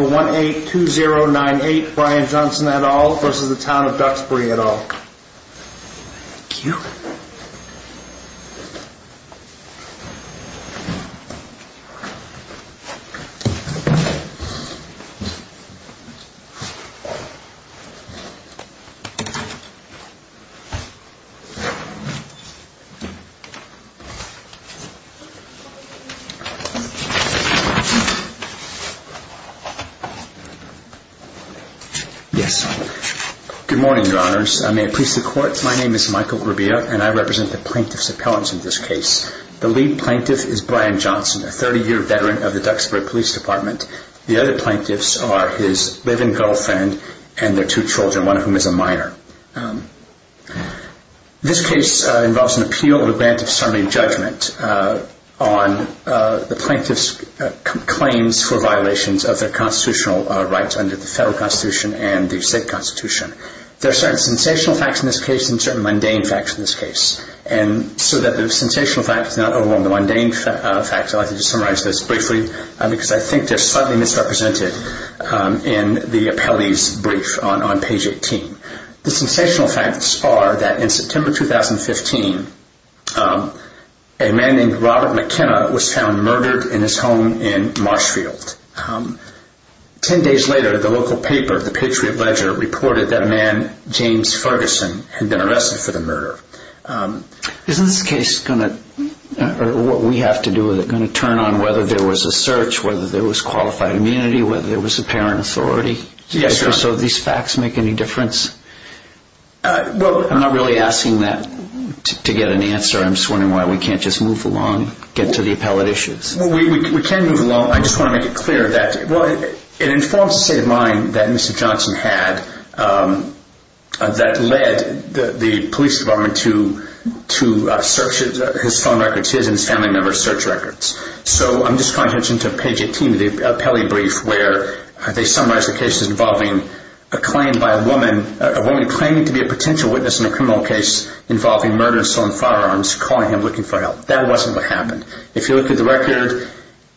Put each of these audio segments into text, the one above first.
1-820-98 Brian Johnson et al. v. Town of Duxbury et al. Good morning, Your Honours. I may it please the Court, my name is Michael Rubio and I represent the plaintiff's appellants in this case. The lead plaintiff is Brian Johnson, a 30-year veteran of the Duxbury Police Department. The other plaintiffs are his live-and-go friend and their two children, one of whom is a minor. This case involves an appeal and a grant of summary judgment on the plaintiff's claims for violations of their constitutional rights under the federal constitution and the state constitution. There are certain sensational facts in this case and certain mundane facts in this case. And so that the sensational facts do not overwhelm the mundane facts, I'd like to just summarize this briefly because I think they're slightly misrepresented in the appellee's brief on page 18. The sensational facts are that in September 2015, a man named Robert McKenna was found murdered in his home in Marshfield. Ten days later, the local paper, the Patriot-Ledger, reported that man, James Ferguson, had been arrested for the murder. Isn't this case going to, or what we have to do with it, going to turn on whether there was a search, whether there was qualified immunity, whether there was apparent authority? Yes, sir. So these facts make any difference? I'm not really asking that to get an answer. I'm just wondering why we can't just move along, get to the appellate issues. Well, we can move along. I just want to make it clear that it informs the state of mind that Mr. Johnson had that led the police department to search his phone records, his and his family members' search records. So I'm just calling attention to page 18 of the appellee brief where they summarize the case as involving a woman claiming to be a potential witness in a criminal case involving murder, assault, and firearms, calling him, looking for help. That wasn't what happened. If you look at the record,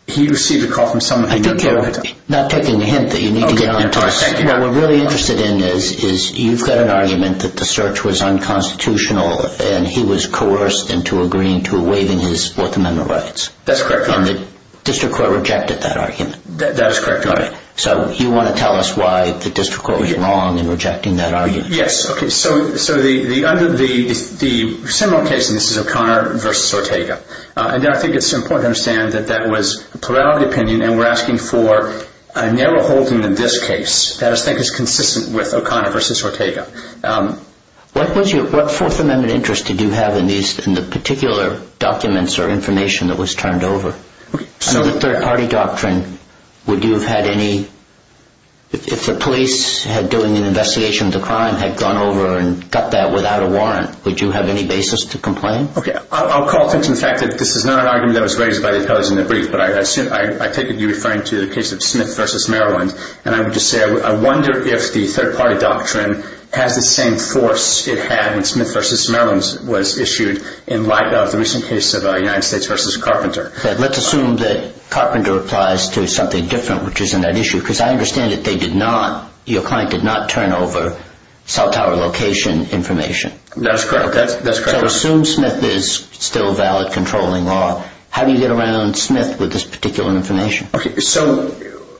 he received a call from someone who knew him. I think you're not taking the hint that you need to get on to us. Okay, thank you. What we're really interested in is you've got an argument that the search was unconstitutional and he was coerced into agreeing to waiving his Fourth Amendment rights. That's correct, Your Honor. And the district court rejected that argument. That is correct, Your Honor. So you want to tell us why the district court was wrong in rejecting that argument? Yes, okay. So the similar case in this is O'Connor v. Ortega. And I think it's important to understand that that was a plurality opinion and we're asking for a narrow holding in this case that I think is consistent with O'Connor v. Ortega. What Fourth Amendment interest did you have in the particular documents or information that was turned over? So the third-party doctrine, would you have had any – if the police doing an investigation of the crime had gone over and got that without a warrant, would you have any basis to complain? Okay, I'll call attention to the fact that this is not an argument that was raised by the appellees in the brief, but I take it you're referring to the case of Smith v. Maryland. And I would just say I wonder if the third-party doctrine has the same force it had when Smith v. Maryland was issued in light of the recent case of United States v. Carpenter. Let's assume that Carpenter applies to something different, which is in that issue, because I understand that they did not – your client did not turn over South Tower location information. That's correct. That's correct. So assume Smith is still valid, controlling law. How do you get around Smith with this particular information? Okay, so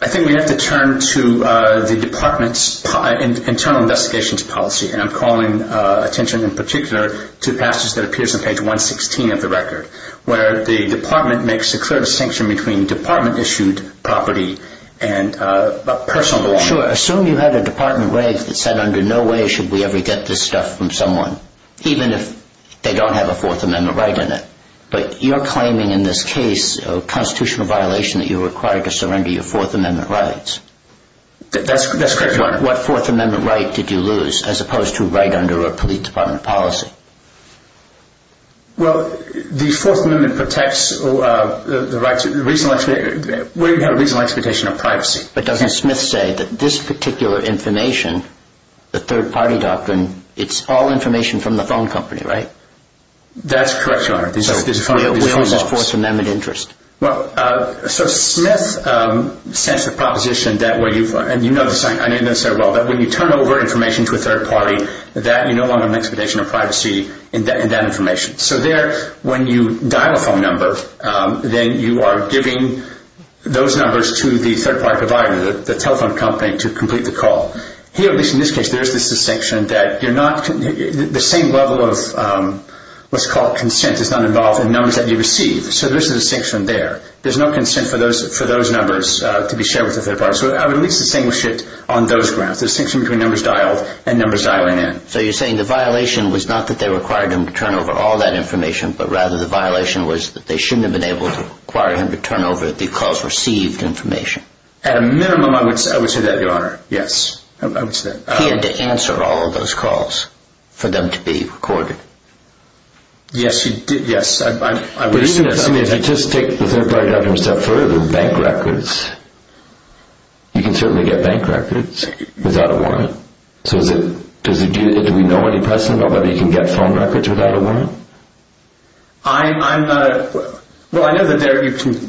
I think we have to turn to the department's internal investigations policy. And I'm calling attention in particular to the passage that appears on page 116 of the record, where the department makes a clear distinction between department-issued property and personal belongings. Sure. Assume you had a department rave that said under no way should we ever get this stuff from someone, even if they don't have a Fourth Amendment right in it. But you're claiming in this case a constitutional violation that you're required to surrender your Fourth Amendment rights. That's correct. What Fourth Amendment right did you lose, as opposed to a right under a police department policy? Well, the Fourth Amendment protects the right to – where you have a reasonable expectation of privacy. But doesn't Smith say that this particular information, the third-party doctrine, it's all information from the phone company, right? That's correct, Your Honor. So where is his Fourth Amendment interest? Well, so Smith sets the proposition that when you – and you know this, I know you know this very well – that when you turn over information to a third party, that you no longer have an expectation of privacy in that information. So there, when you dial a phone number, then you are giving those numbers to the third-party provider, the telephone company, to complete the call. Here, at least in this case, there is this distinction that you're not – the same level of what's called consent is not involved in numbers that you receive. So there's a distinction there. There's no consent for those numbers to be shared with the third party. So I would at least distinguish it on those grounds, the distinction between numbers dialed and numbers dialing in. So you're saying the violation was not that they required him to turn over all that information, but rather the violation was that they shouldn't have been able to require him to turn over the calls received information. At a minimum, I would say that, Your Honor. Yes. I would say that. He had to answer all of those calls for them to be recorded. Yes, he did. Yes. I would assume that. But even if you just take the third-party documents a step further, bank records, you can certainly get bank records without a warrant. So is it – do we know any precedent about whether you can get phone records without a warrant? I'm not – well, I know that there are certain –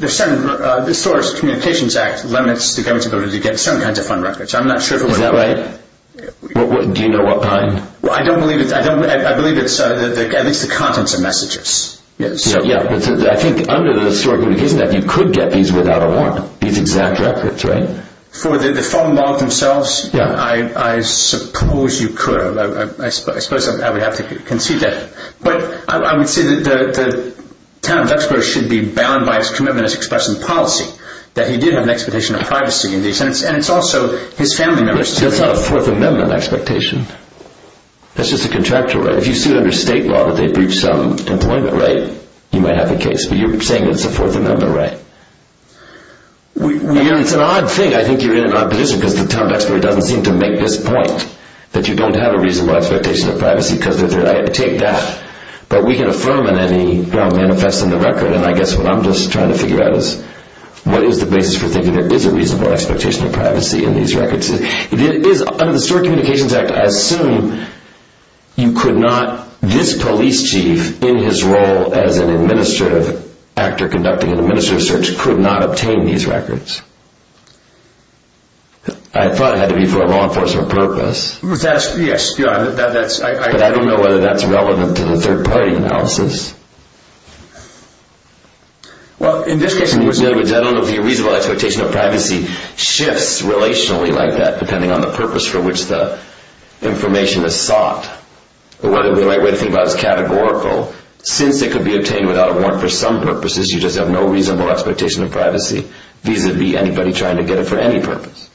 the Source Communications Act limits the government's ability to get certain kinds of phone records. I'm not sure if it would apply. Is that right? Do you know what kind? Well, I don't believe it's – I believe it's at least the contents of messages. Yes. I think under the Source Communications Act, you could get these without a warrant, these exact records, right? For the phone log themselves? Yes. I suppose you could. I suppose I would have to concede that. But I would say that the town of Duxborough should be bound by its commitment to expressing policy, that he did have an expectation of privacy in these, and it's also his family members. That's not a Fourth Amendment expectation. That's just a contractual right. If you sued under state law that they breached some employment right, you might have a case. But you're saying it's a Fourth Amendment right. It's an odd thing. I think you're in an odd position because the town of Duxborough doesn't seem to make this point, that you don't have a reasonable expectation of privacy because they're there. I take that. But we can affirm in any manifest in the record. And I guess what I'm just trying to figure out is what is the basis for thinking there is a reasonable expectation of privacy in these records? Under the Historic Communications Act, I assume you could not, this police chief in his role as an administrative actor conducting an administrative search, could not obtain these records. I thought it had to be for a law enforcement purpose. Yes. But I don't know whether that's relevant to the third party analysis. Well, in this case... In other words, I don't know if the reasonable expectation of privacy shifts relationally like that, depending on the purpose for which the information is sought, or whether the right way to think about it is categorical. Since it could be obtained without a warrant for some purposes, you just have no reasonable expectation of privacy, vis-a-vis anybody trying to get it for any purpose.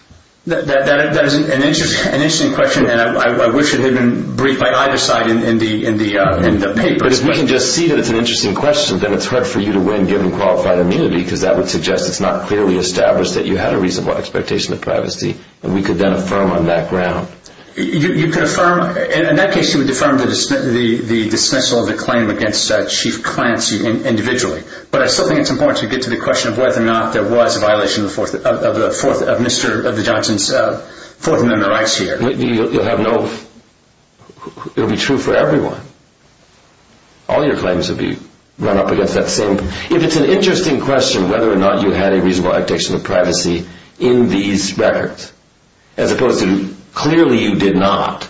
That is an interesting question, and I wish it had been briefed by either side in the paper. But if we can just see that it's an interesting question, then it's hard for you to win given qualified immunity, because that would suggest it's not clearly established that you had a reasonable expectation of privacy, and we could then affirm on that ground. You could affirm. In that case, you would affirm the dismissal of the claim against Chief Clancy individually. But I still think it's important to get to the question of whether or not there was a violation of Mr. Johnson's Fourth Amendment rights here. It would be true for everyone. All your claims would be run up against that same. If it's an interesting question whether or not you had a reasonable expectation of privacy in these records, as opposed to clearly you did not,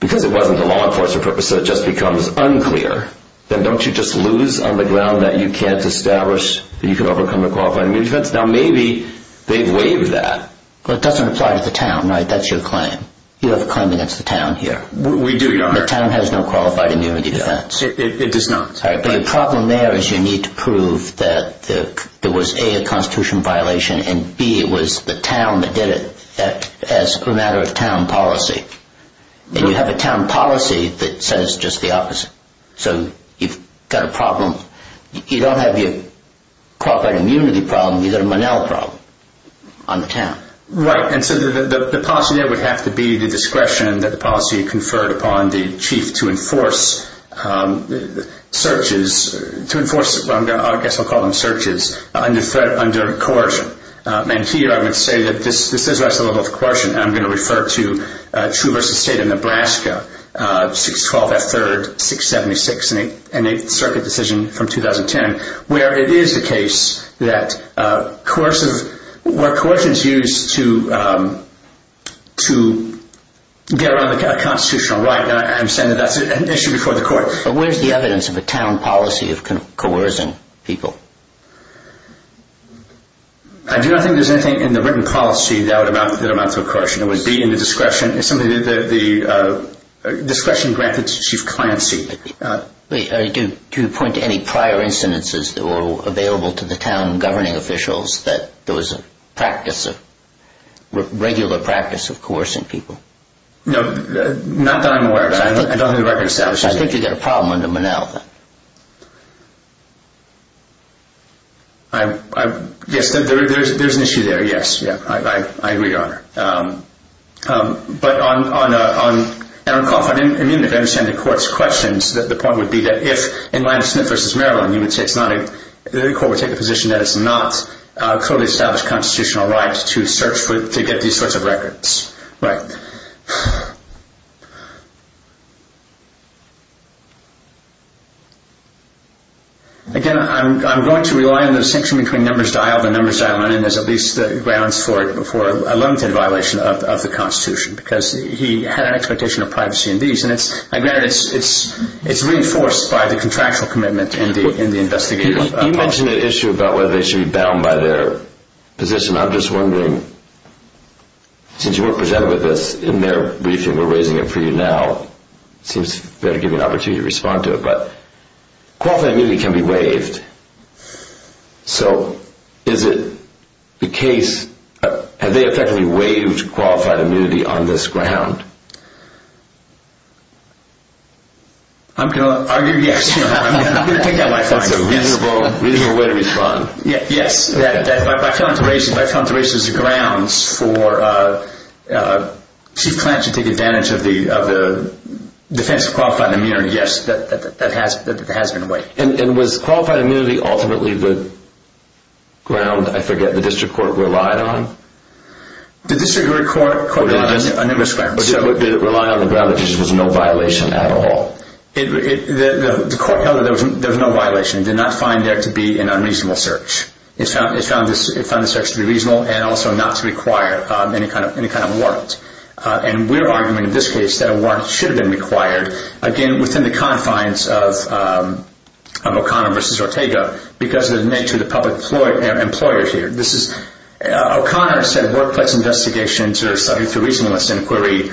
because it wasn't the law enforcement purpose, so it just becomes unclear, then don't you just lose on the ground that you can't establish that you can overcome a qualified immunity defense? Now maybe they've waived that. Well, it doesn't apply to the town, right? That's your claim. You have a claim against the town here. We do, Your Honor. The town has no qualified immunity defense. It does not. The problem there is you need to prove that there was, A, a Constitution violation, and, B, it was the town that did it as a matter of town policy. And you have a town policy that says just the opposite. So you've got a problem. You don't have your qualified immunity problem. You've got a Monell problem on the town. Right. And so the policy there would have to be the discretion that the policy conferred upon the chief to enforce searches, to enforce, I guess I'll call them searches, under coercion. And here I would say that this does rise to the level of coercion, and I'm going to refer to True v. State of Nebraska, 612 F. 3rd, 676, and the 8th Circuit decision from 2010, where it is the case that coercive, where coercion is used to get around a constitutional right, and I'm saying that that's an issue before the court. But where's the evidence of a town policy of coercing people? I do not think there's anything in the written policy that amounts to coercion. It would be in the discretion. It's something that the discretion granted to chief clancy. Wait. Do you point to any prior incidences that were available to the town governing officials that there was a regular practice of coercing people? No, not that I'm aware of. I don't have a record of establishing that. I think you've got a problem under Monell, then. Yes, there's an issue there, yes. Yes, I agree, Your Honor. But I'm confident and immune to understanding the court's questions. The point would be that if, in line with Smith v. Maryland, the court would take the position that it's not a clearly established constitutional right to get these sorts of records. Right. Again, I'm going to rely on the distinction between numbers dialed and numbers dialed. And there's at least grounds for a limited violation of the Constitution because he had an expectation of privacy in these. And granted, it's reinforced by the contractual commitment in the investigative process. You mentioned an issue about whether they should be bound by their position. I'm just wondering, since you weren't presented with this in their briefing, we're raising it for you now. It seems fair to give you an opportunity to respond to it. But qualified immunity can be waived. So is it the case? Have they effectively waived qualified immunity on this ground? I'm going to argue yes. I'm going to take that life sentence. That's a reasonable way to respond. Yes. If I found the races of grounds for Chief Clance to take advantage of the defense of qualified immunity, yes, that has been waived. And was qualified immunity ultimately the ground, I forget, the district court relied on? The district court relied on a number of grounds. But did it rely on the ground that there was no violation at all? The court held that there was no violation. It did not find there to be an unreasonable search. It found the search to be reasonable and also not to require any kind of warrant. And we're arguing in this case that a warrant should have been required. Again, within the confines of O'Connor v. Ortega, because of the nature of the public employers here. O'Connor said workplace investigations are subject to reasonableness inquiry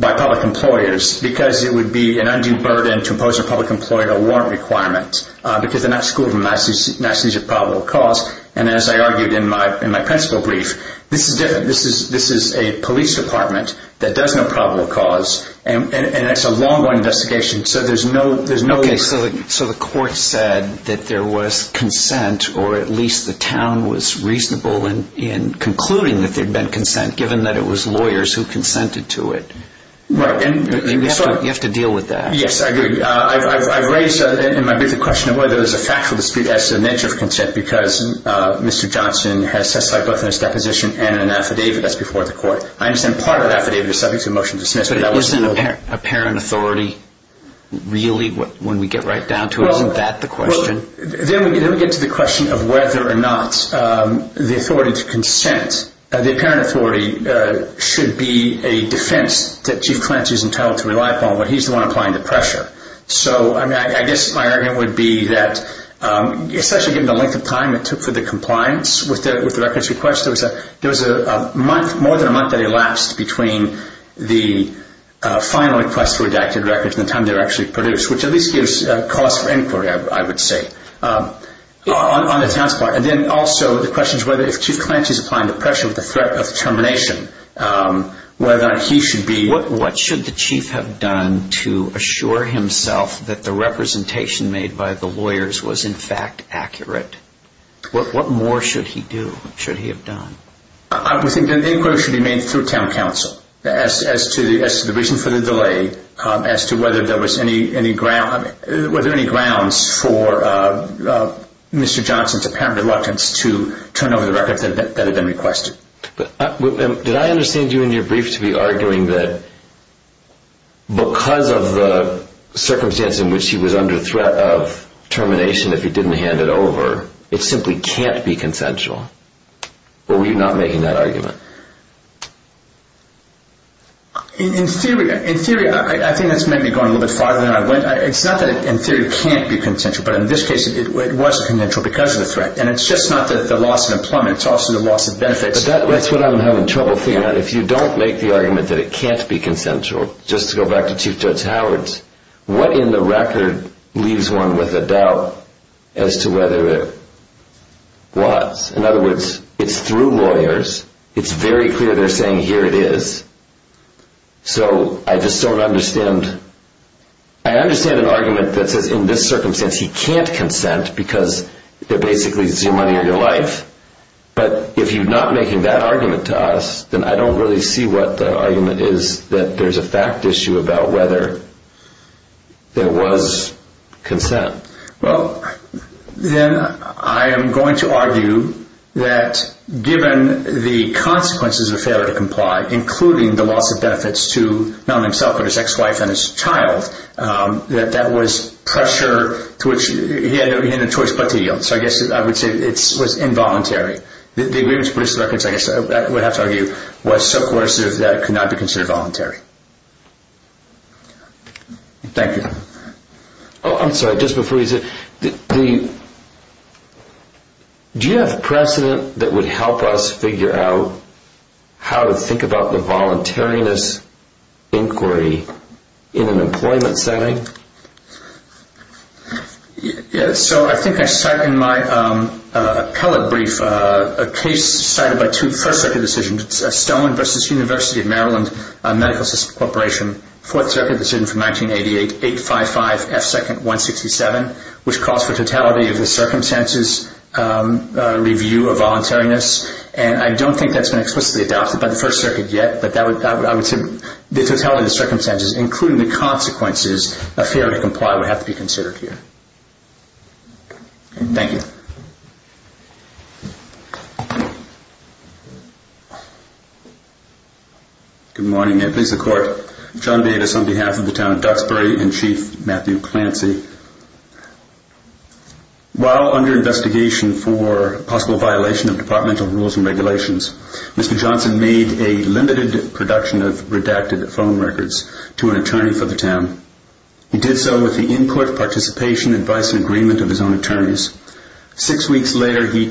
by public employers because it would be an undue burden to impose on a public employer a warrant requirement because they're not schooled in nationalities of probable cause. And as I argued in my principal brief, this is different. This is a police department that does know probable cause. And it's a long-running investigation. So there's no... Okay, so the court said that there was consent or at least the town was reasonable in concluding that there had been consent given that it was lawyers who consented to it. Right. You have to deal with that. Yes, I agree. I've raised in my brief a question of whether there's a factual dispute as to the nature of consent because Mr. Johnson has testified both in his deposition and in an affidavit that's before the court. I understand part of that affidavit is subject to a motion to dismiss. But isn't apparent authority really when we get right down to it? Isn't that the question? Then we get to the question of whether or not the authority to consent, the apparent authority should be a defense that Chief Clance is entitled to rely upon, but he's the one applying the pressure. So I guess my argument would be that especially given the length of time it took for the compliance with the records request, there was a month, more than a month that elapsed between the final request for redacted records and the time they were actually produced, which at least gives cause for inquiry, I would say, on the town's part. And then also the question is whether if Chief Clance is applying the pressure with the threat of termination, whether he should be... What should the chief have done to assure himself that the representation made by the lawyers was in fact accurate? What more should he do, should he have done? I would think an inquiry should be made through town council as to the reason for the delay, as to whether there was any grounds for Mr. Johnson's apparent reluctance to turn over the records that had been requested. Did I understand you in your brief to be arguing that because of the circumstance in which he was under threat of termination if he didn't hand it over, it simply can't be consensual? Or were you not making that argument? In theory, I think that's maybe going a little bit farther than I went. It's not that in theory it can't be consensual, but in this case it was consensual because of the threat. And it's just not the loss of employment, it's also the loss of benefits. That's what I'm having trouble figuring out. If you don't make the argument that it can't be consensual, just to go back to Chief Judge Howard's, what in the record leaves one with a doubt as to whether it was? In other words, it's through lawyers. It's very clear they're saying here it is. So I just don't understand. I understand an argument that says in this circumstance he can't consent because it basically is your money or your life. But if you're not making that argument to us, then I don't really see what the argument is that there's a fact issue about whether there was consent. Well, then I am going to argue that given the consequences of failure to comply, including the loss of benefits to not only himself but his ex-wife and his child, that that was pressure to which he had no choice but to yield. So I guess I would say it was involuntary. The agreements produced in that context, I guess I would have to argue, was so coercive that it could not be considered voluntary. Thank you. I'm sorry, just before you say that, do you have precedent that would help us figure out how to think about the voluntariness inquiry in an employment setting? So I think I cite in my appellate brief a case cited by two First Circuit decisions, Stone v. University of Maryland Medical System Corporation, Fourth Circuit decision from 1988, 855F2-167, which calls for totality of the circumstances review of voluntariness. And I don't think that's been explicitly adopted by the First Circuit yet, but I would say the totality of the circumstances, including the consequences of failure to comply, would have to be considered here. Thank you. Good morning. I please the Court. John Bates on behalf of the Town of Duxbury and Chief Matthew Clancy. While under investigation for possible violation of departmental rules and regulations, Mr. Johnson made a limited production of redacted phone records to an attorney for the town. He did so with the input, participation, advice, and agreement of his own attorneys. Six weeks later, he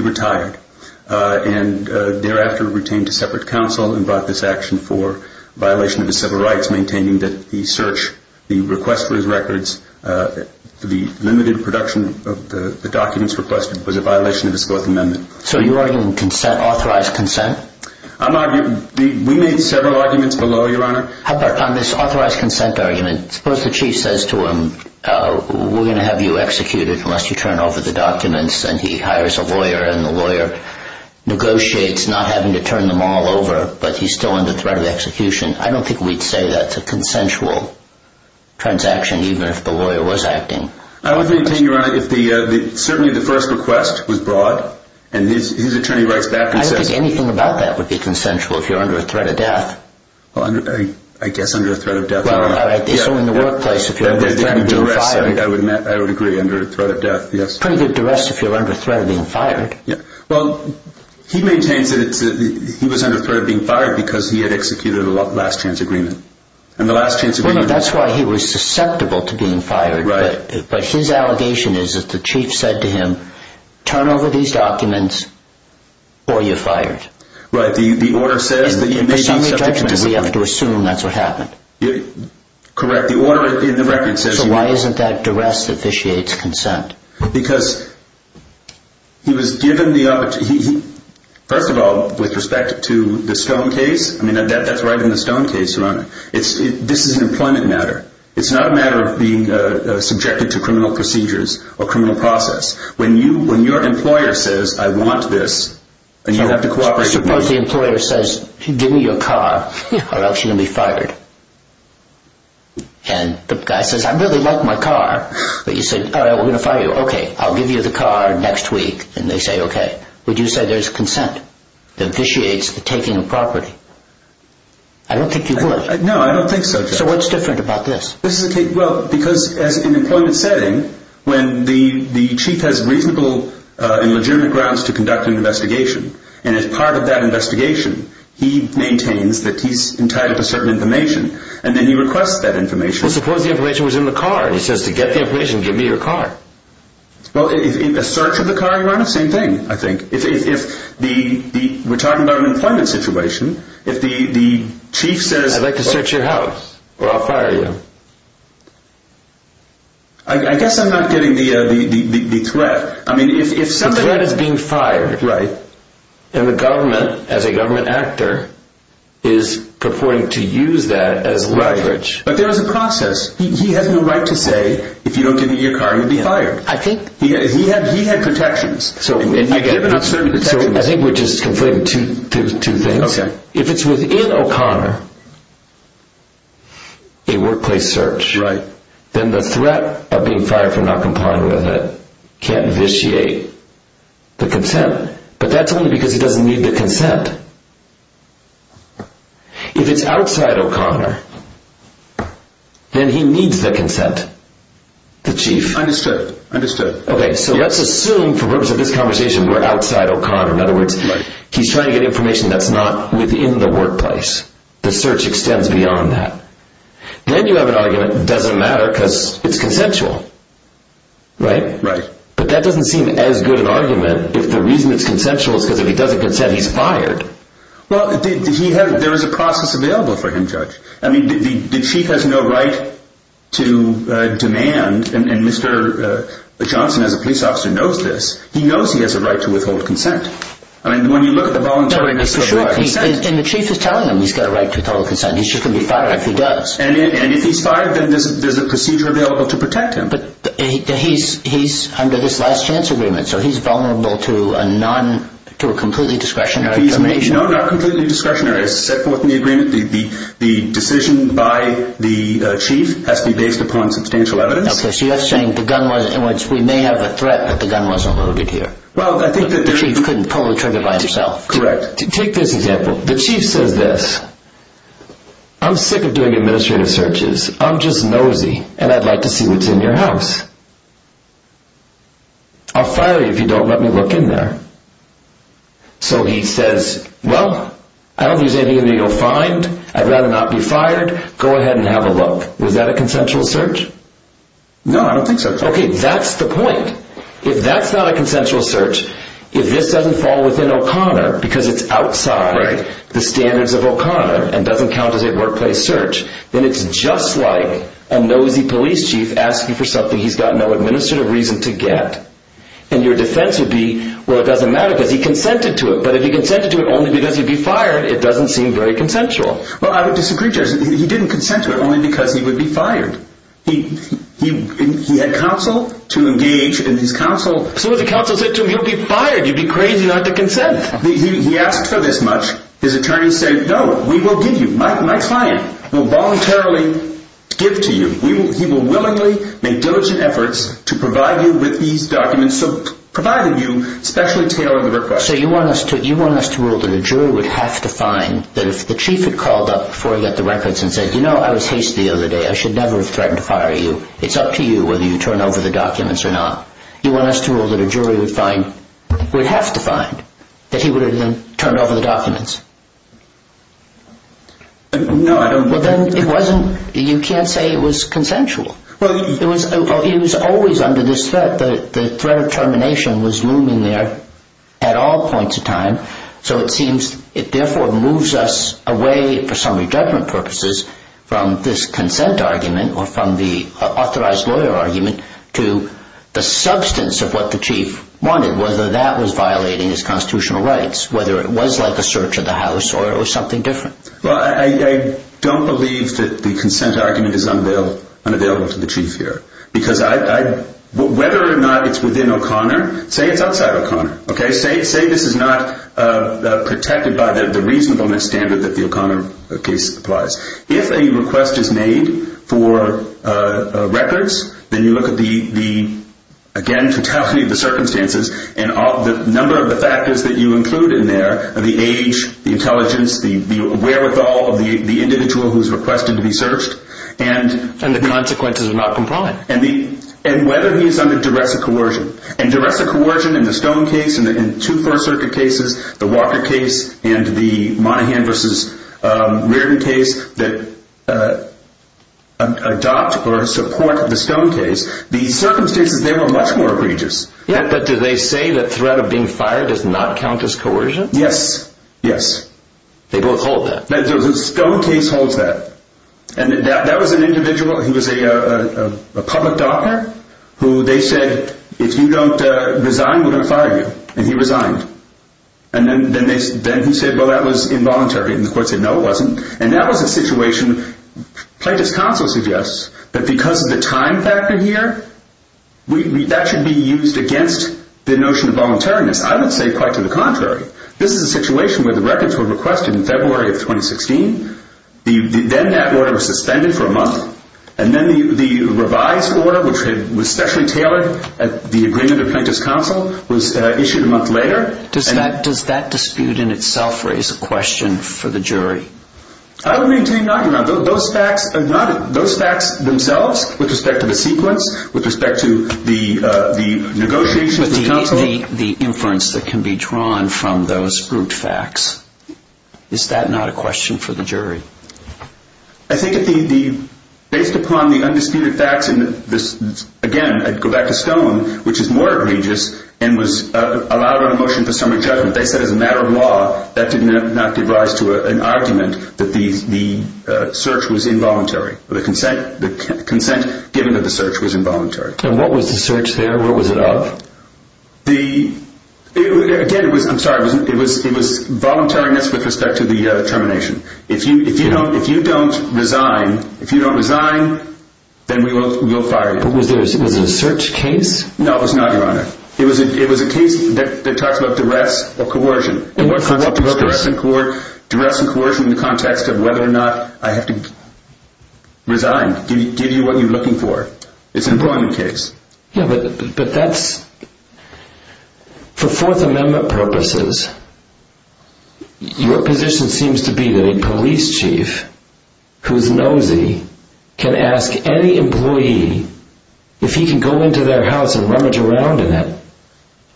retired and thereafter retained to separate counsel and brought this action for violation of his civil rights, maintaining that the search, the request for his records, the limited production of the documents requested was a violation of his Fourth Amendment. So you're arguing authorized consent? We made several arguments below, Your Honor. On this authorized consent argument, suppose the Chief says to him, we're going to have you executed unless you turn over the documents, and he hires a lawyer and the lawyer negotiates not having to turn them all over, but he's still under threat of execution. I don't think we'd say that's a consensual transaction, even if the lawyer was acting. I would maintain, Your Honor, if certainly the first request was broad, and his attorney writes back and says... I don't think anything about that would be consensual if you're under a threat of death. I guess under a threat of death. So in the workplace, if you're under threat of being fired. I would agree, under a threat of death, yes. Pretty good duress if you're under threat of being fired. Well, he maintains that he was under threat of being fired because he had executed a last chance agreement. That's why he was susceptible to being fired. But his allegation is that the Chief said to him, turn over these documents or you're fired. Right, the order says... It's only judgment, we have to assume that's what happened. Correct, the order in the record says... So why isn't that duress officiates consent? Because he was given the opportunity... First of all, with respect to the Stone case, I mean, that's right in the Stone case, Your Honor. This is an employment matter. It's not a matter of being subjected to criminal procedures or criminal process. When your employer says, I want this, and you have to cooperate... Suppose the employer says, give me your car or else you're going to be fired. And the guy says, I really like my car. But you say, all right, we're going to fire you. Okay, I'll give you the car next week. And they say, okay. Would you say there's consent? The officiates are taking a property. I don't think you would. No, I don't think so, Judge. So what's different about this? Well, because in an employment setting, when the Chief has reasonable and legitimate grounds to conduct an investigation, and as part of that investigation, he maintains that he's entitled to certain information. And then he requests that information. Well, suppose the information was in the car. And he says, to get the information, give me your car. Well, in the search of the car, Your Honor, same thing, I think. If we're talking about an employment situation, if the Chief says... I'd like to search your house or I'll fire you. I guess I'm not getting the threat. I mean, if somebody... The threat is being fired. Right. And the government, as a government actor, is purporting to use that as leverage. But there is a process. He has no right to say, if you don't give me your car, you'll be fired. I think... He had protections. So I think we're just conflating two things. If it's within O'Connor, a workplace search, then the threat of being fired for not complying with it can't vitiate the consent. But that's only because he doesn't need the consent. If it's outside O'Connor, then he needs the consent. The Chief. Understood. Okay, so let's assume, for the purpose of this conversation, we're outside O'Connor. In other words, he's trying to get information that's not within the workplace. The search extends beyond that. Then you have an argument, it doesn't matter because it's consensual. Right? Right. But that doesn't seem as good an argument if the reason it's consensual is because if he doesn't consent, he's fired. Well, there is a process available for him, Judge. I mean, the Chief has no right to demand, and Mr. Johnson, as a police officer, knows this. He knows he has a right to withhold consent. I mean, when you look at the voluntary consent... For sure. And the Chief is telling him he's got a right to withhold consent. He's just going to be fired if he does. And if he's fired, then there's a procedure available to protect him. But he's under this last chance agreement, so he's vulnerable to a completely discretionary... No, not completely discretionary. As set forth in the agreement, the decision by the Chief has to be based upon substantial evidence. Okay, so you're saying the gun was in which we may have a threat, but the gun wasn't loaded here. Well, I think that... But the Chief couldn't pull the trigger by himself. Correct. Take this example. The Chief says this. I'm sick of doing administrative searches. I'm just nosy, and I'd like to see what's in your house. I'll fire you if you don't let me look in there. So he says, well, I don't think there's anything that he'll find. I'd rather not be fired. Go ahead and have a look. Was that a consensual search? No, I don't think so. Okay, that's the point. If that's not a consensual search, if this doesn't fall within O'Connor, because it's outside the standards of O'Connor, and doesn't count as a workplace search, then it's just like a nosy police chief asking for something he's got no administrative reason to get. And your defense would be, well, it doesn't matter, because he consented to it. But if he consented to it only because he'd be fired, it doesn't seem very consensual. Well, I would disagree, Judge. He didn't consent to it only because he would be fired. He had counsel to engage, and his counsel... So what if the counsel said to him, he'll be fired. You'd be crazy not to consent. He asked for this much. His attorney said, no, we will give you. My client will voluntarily give to you. He will willingly make diligent efforts to provide you with these documents, providing you specially tailored requests. So you want us to rule that a jury would have to find that if the chief had called up before he got the records and said, you know, I was hasty the other day. I should never have threatened to fire you. It's up to you whether you turn over the documents or not. You want us to rule that a jury would find, would have to find, that he would have then turned over the documents? No, I don't... Well, then it wasn't, you can't say it was consensual. It was always under this threat. The threat of termination was looming there at all points of time. So it seems it therefore moves us away for summary judgment purposes from this consent argument or from the authorized lawyer argument to the substance of what the chief wanted, whether that was violating his constitutional rights, whether it was like a search of the house or it was something different. Well, I don't believe that the consent argument is unavailable to the chief here. Because whether or not it's within O'Connor, say it's outside of O'Connor. Say this is not protected by the reasonableness standard that the O'Connor case applies. If a request is made for records, then you look at the, again, totality of the circumstances and the number of the factors that you include in there, the age, the intelligence, the wherewithal of the individual who's requested to be searched. And the consequences are not compliant. And whether he's under duress or coercion. And duress or coercion in the Stone case and in two First Circuit cases, the Walker case and the Monaghan v. Reardon case, that adopt or support the Stone case, the circumstances there were much more egregious. But do they say that threat of being fired does not count as coercion? Yes. Yes. They both hold that. The Stone case holds that. And that was an individual who was a public doctor who they said, if you don't resign, we're going to fire you. And he resigned. And then he said, well, that was involuntary. And the court said, no, it wasn't. And that was a situation Plaintiff's counsel suggests that because of the time factor here, that should be used against the notion of voluntariness. I would say quite to the contrary. This is a situation where the records were requested in February of 2016. Then that order was suspended for a month. And then the revised order, which was specially tailored at the agreement of Plaintiff's counsel, was issued a month later. Does that dispute in itself raise a question for the jury? I would maintain not. Those facts themselves, with respect to the sequence, with respect to the negotiations with counsel. The inference that can be drawn from those group facts, is that not a question for the jury? I think based upon the undisputed facts in this, again, I'd go back to Stone, which is more egregious and was allowed on a motion for summary judgment. They said as a matter of law, that did not give rise to an argument that the search was involuntary. The consent given to the search was involuntary. And what was the search there? What was it of? Again, I'm sorry, it was voluntariness with respect to the termination. If you don't resign, then we will fire you. Was it a search case? No, it was not, Your Honor. It was a case that talks about duress or coercion. Duress and coercion in the context of whether or not I have to resign, give you what you're looking for. It's an employment case. For Fourth Amendment purposes, your position seems to be that a police chief who's nosy can ask any employee, if he can go into their house and rummage around in it,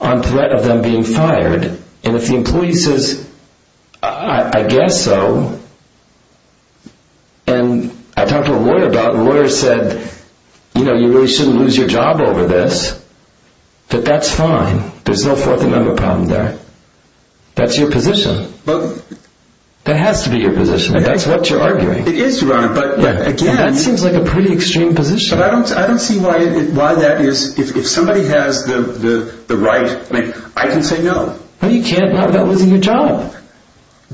on threat of them being fired, and if the employee says, I guess so, and I talked to a lawyer about it, and the lawyer said, you really shouldn't lose your job over this, that that's fine. There's no Fourth Amendment problem there. That's your position. That has to be your position. That's what you're arguing. It is, Your Honor. That seems like a pretty extreme position. I don't see why that is. If somebody has the right, I can say no. You can't without losing your job.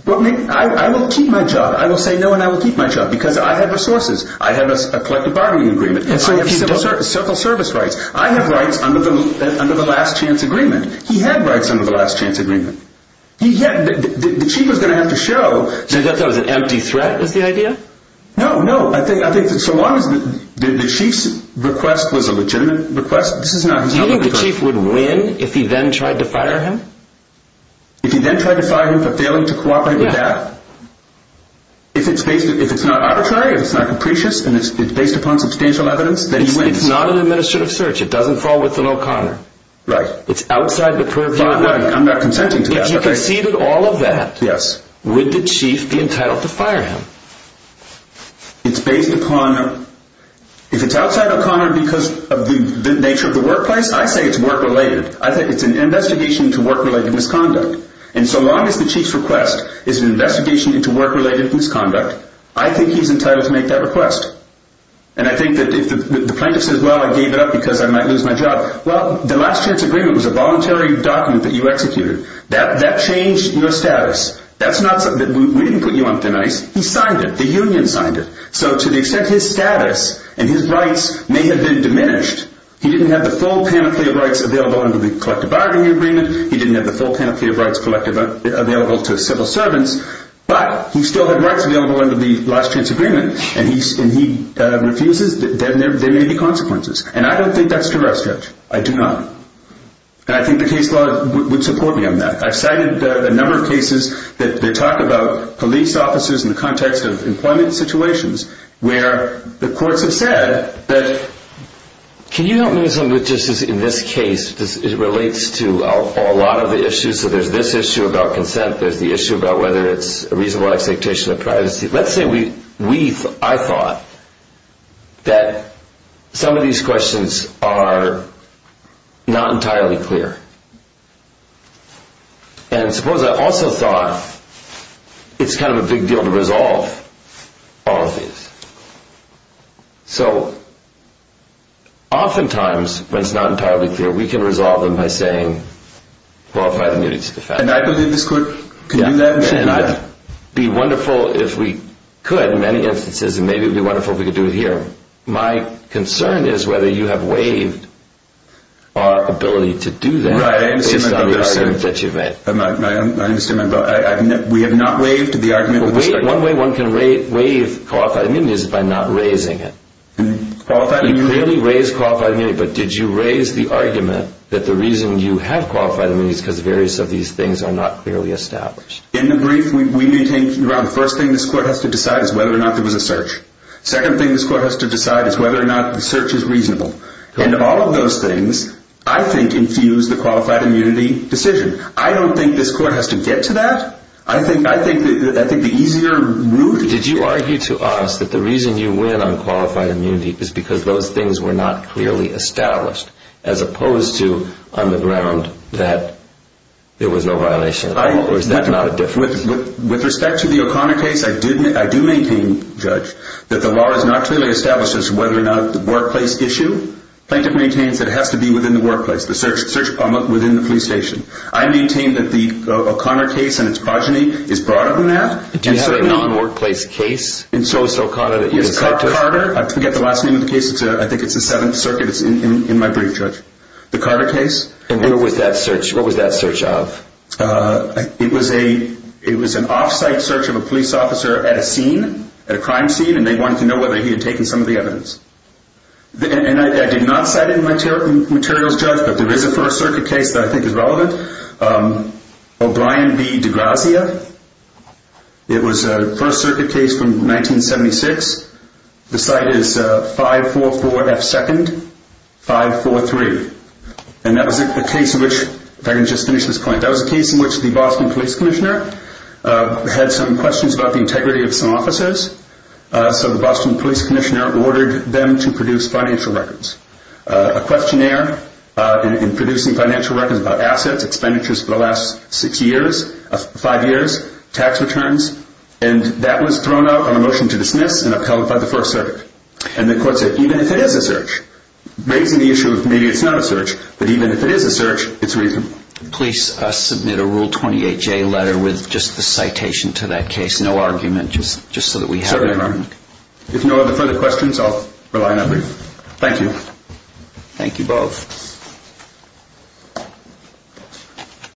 I will keep my job. I will say no and I will keep my job because I have resources. I have a collective bargaining agreement. I have civil service rights. I have rights under the last chance agreement. He had rights under the last chance agreement. The chief was going to have to show. So you thought that was an empty threat was the idea? No, no. I think so long as the chief's request was a legitimate request. Do you think the chief would win if he then tried to fire him? If he then tried to fire him for failing to cooperate with that? If it's not arbitrary, if it's not capricious, and it's based upon substantial evidence, then he wins. It's not an administrative search. It doesn't fall within O'Connor. Right. It's outside the purview of that. I'm not consenting to that. If you conceded all of that, would the chief be entitled to fire him? It's based upon, if it's outside O'Connor because of the nature of the workplace, I say it's work-related. I think it's an investigation into work-related misconduct. And so long as the chief's request is an investigation into work-related misconduct, I think he's entitled to make that request. And I think that if the plaintiff says, well, I gave it up because I might lose my job, well, the last chance agreement was a voluntary document that you executed. That changed your status. We didn't put you on thin ice. He signed it. The union signed it. So to the extent his status and his rights may have been diminished, he didn't have the full panoply of rights available under the collective bargaining agreement. He didn't have the full panoply of rights available to civil servants. But he still had rights available under the last chance agreement. And he refuses. There may be consequences. And I don't think that's a direct stretch. I do not. And I think the case law would support me on that. I've cited a number of cases that talk about police officers in the context of employment situations where the courts have said, can you help me with something that just is in this case, it relates to a lot of the issues, so there's this issue about consent, there's the issue about whether it's a reasonable expectation of privacy. Let's say I thought that some of these questions are not entirely clear. And suppose I also thought it's kind of a big deal to resolve all of these. So oftentimes, when it's not entirely clear, we can resolve them by saying, qualify the immunity to the fact. And I believe this court can do that. And it would be wonderful if we could in many instances, and maybe it would be wonderful if we could do it here. My concern is whether you have waived our ability to do that based on the argument that you've made. I understand. We have not waived the argument. One way one can waive qualified immunity is by not raising it. You clearly raised qualified immunity, but did you raise the argument that the reason you have qualified immunity is because various of these things are not clearly established? In the brief, the first thing this court has to decide is whether or not there was a search. Second thing this court has to decide is whether or not the search is reasonable. And all of those things, I think, infuse the qualified immunity decision. I don't think this court has to get to that. I think the easier route is to get to that. Did you argue to us that the reason you win on qualified immunity is because those things were not clearly established, as opposed to on the ground that there was no violation at all, or is that not a difference? With respect to the O'Connor case, I do maintain, Judge, that the law does not clearly establish whether or not the workplace issue. Plaintiff maintains that it has to be within the workplace, the search within the police station. I maintain that the O'Connor case and its progeny is broader than that. Do you have a non-workplace case in Sosa, O'Connor that you can cite to us? I forget the last name of the case. I think it's the Seventh Circuit. It's in my brief, Judge. The Carter case. And what was that search of? It was an off-site search of a police officer at a scene, at a crime scene, and they wanted to know whether he had taken some of the evidence. And I did not cite it in my materials, Judge, but there is a First Circuit case that I think is relevant. O'Brien v. DeGrazia. It was a First Circuit case from 1976. The site is 544F2nd, 543. And that was a case in which, if I can just finish this point, that was a case in which the Boston police commissioner had some questions about the integrity of some officers. So the Boston police commissioner ordered them to produce financial records. A questionnaire in producing financial records about assets, expenditures for the last six years, five years, tax returns. And that was thrown out on a motion to dismiss and upheld by the First Circuit. And the court said, even if it is a search, raising the issue of maybe it's not a search, but even if it is a search, it's reasonable. Please submit a Rule 28J letter with just the citation to that case, no argument, just so that we have it. Certainly, Your Honor. If you don't have any further questions, I'll rely on that brief. Thank you. Thank you both.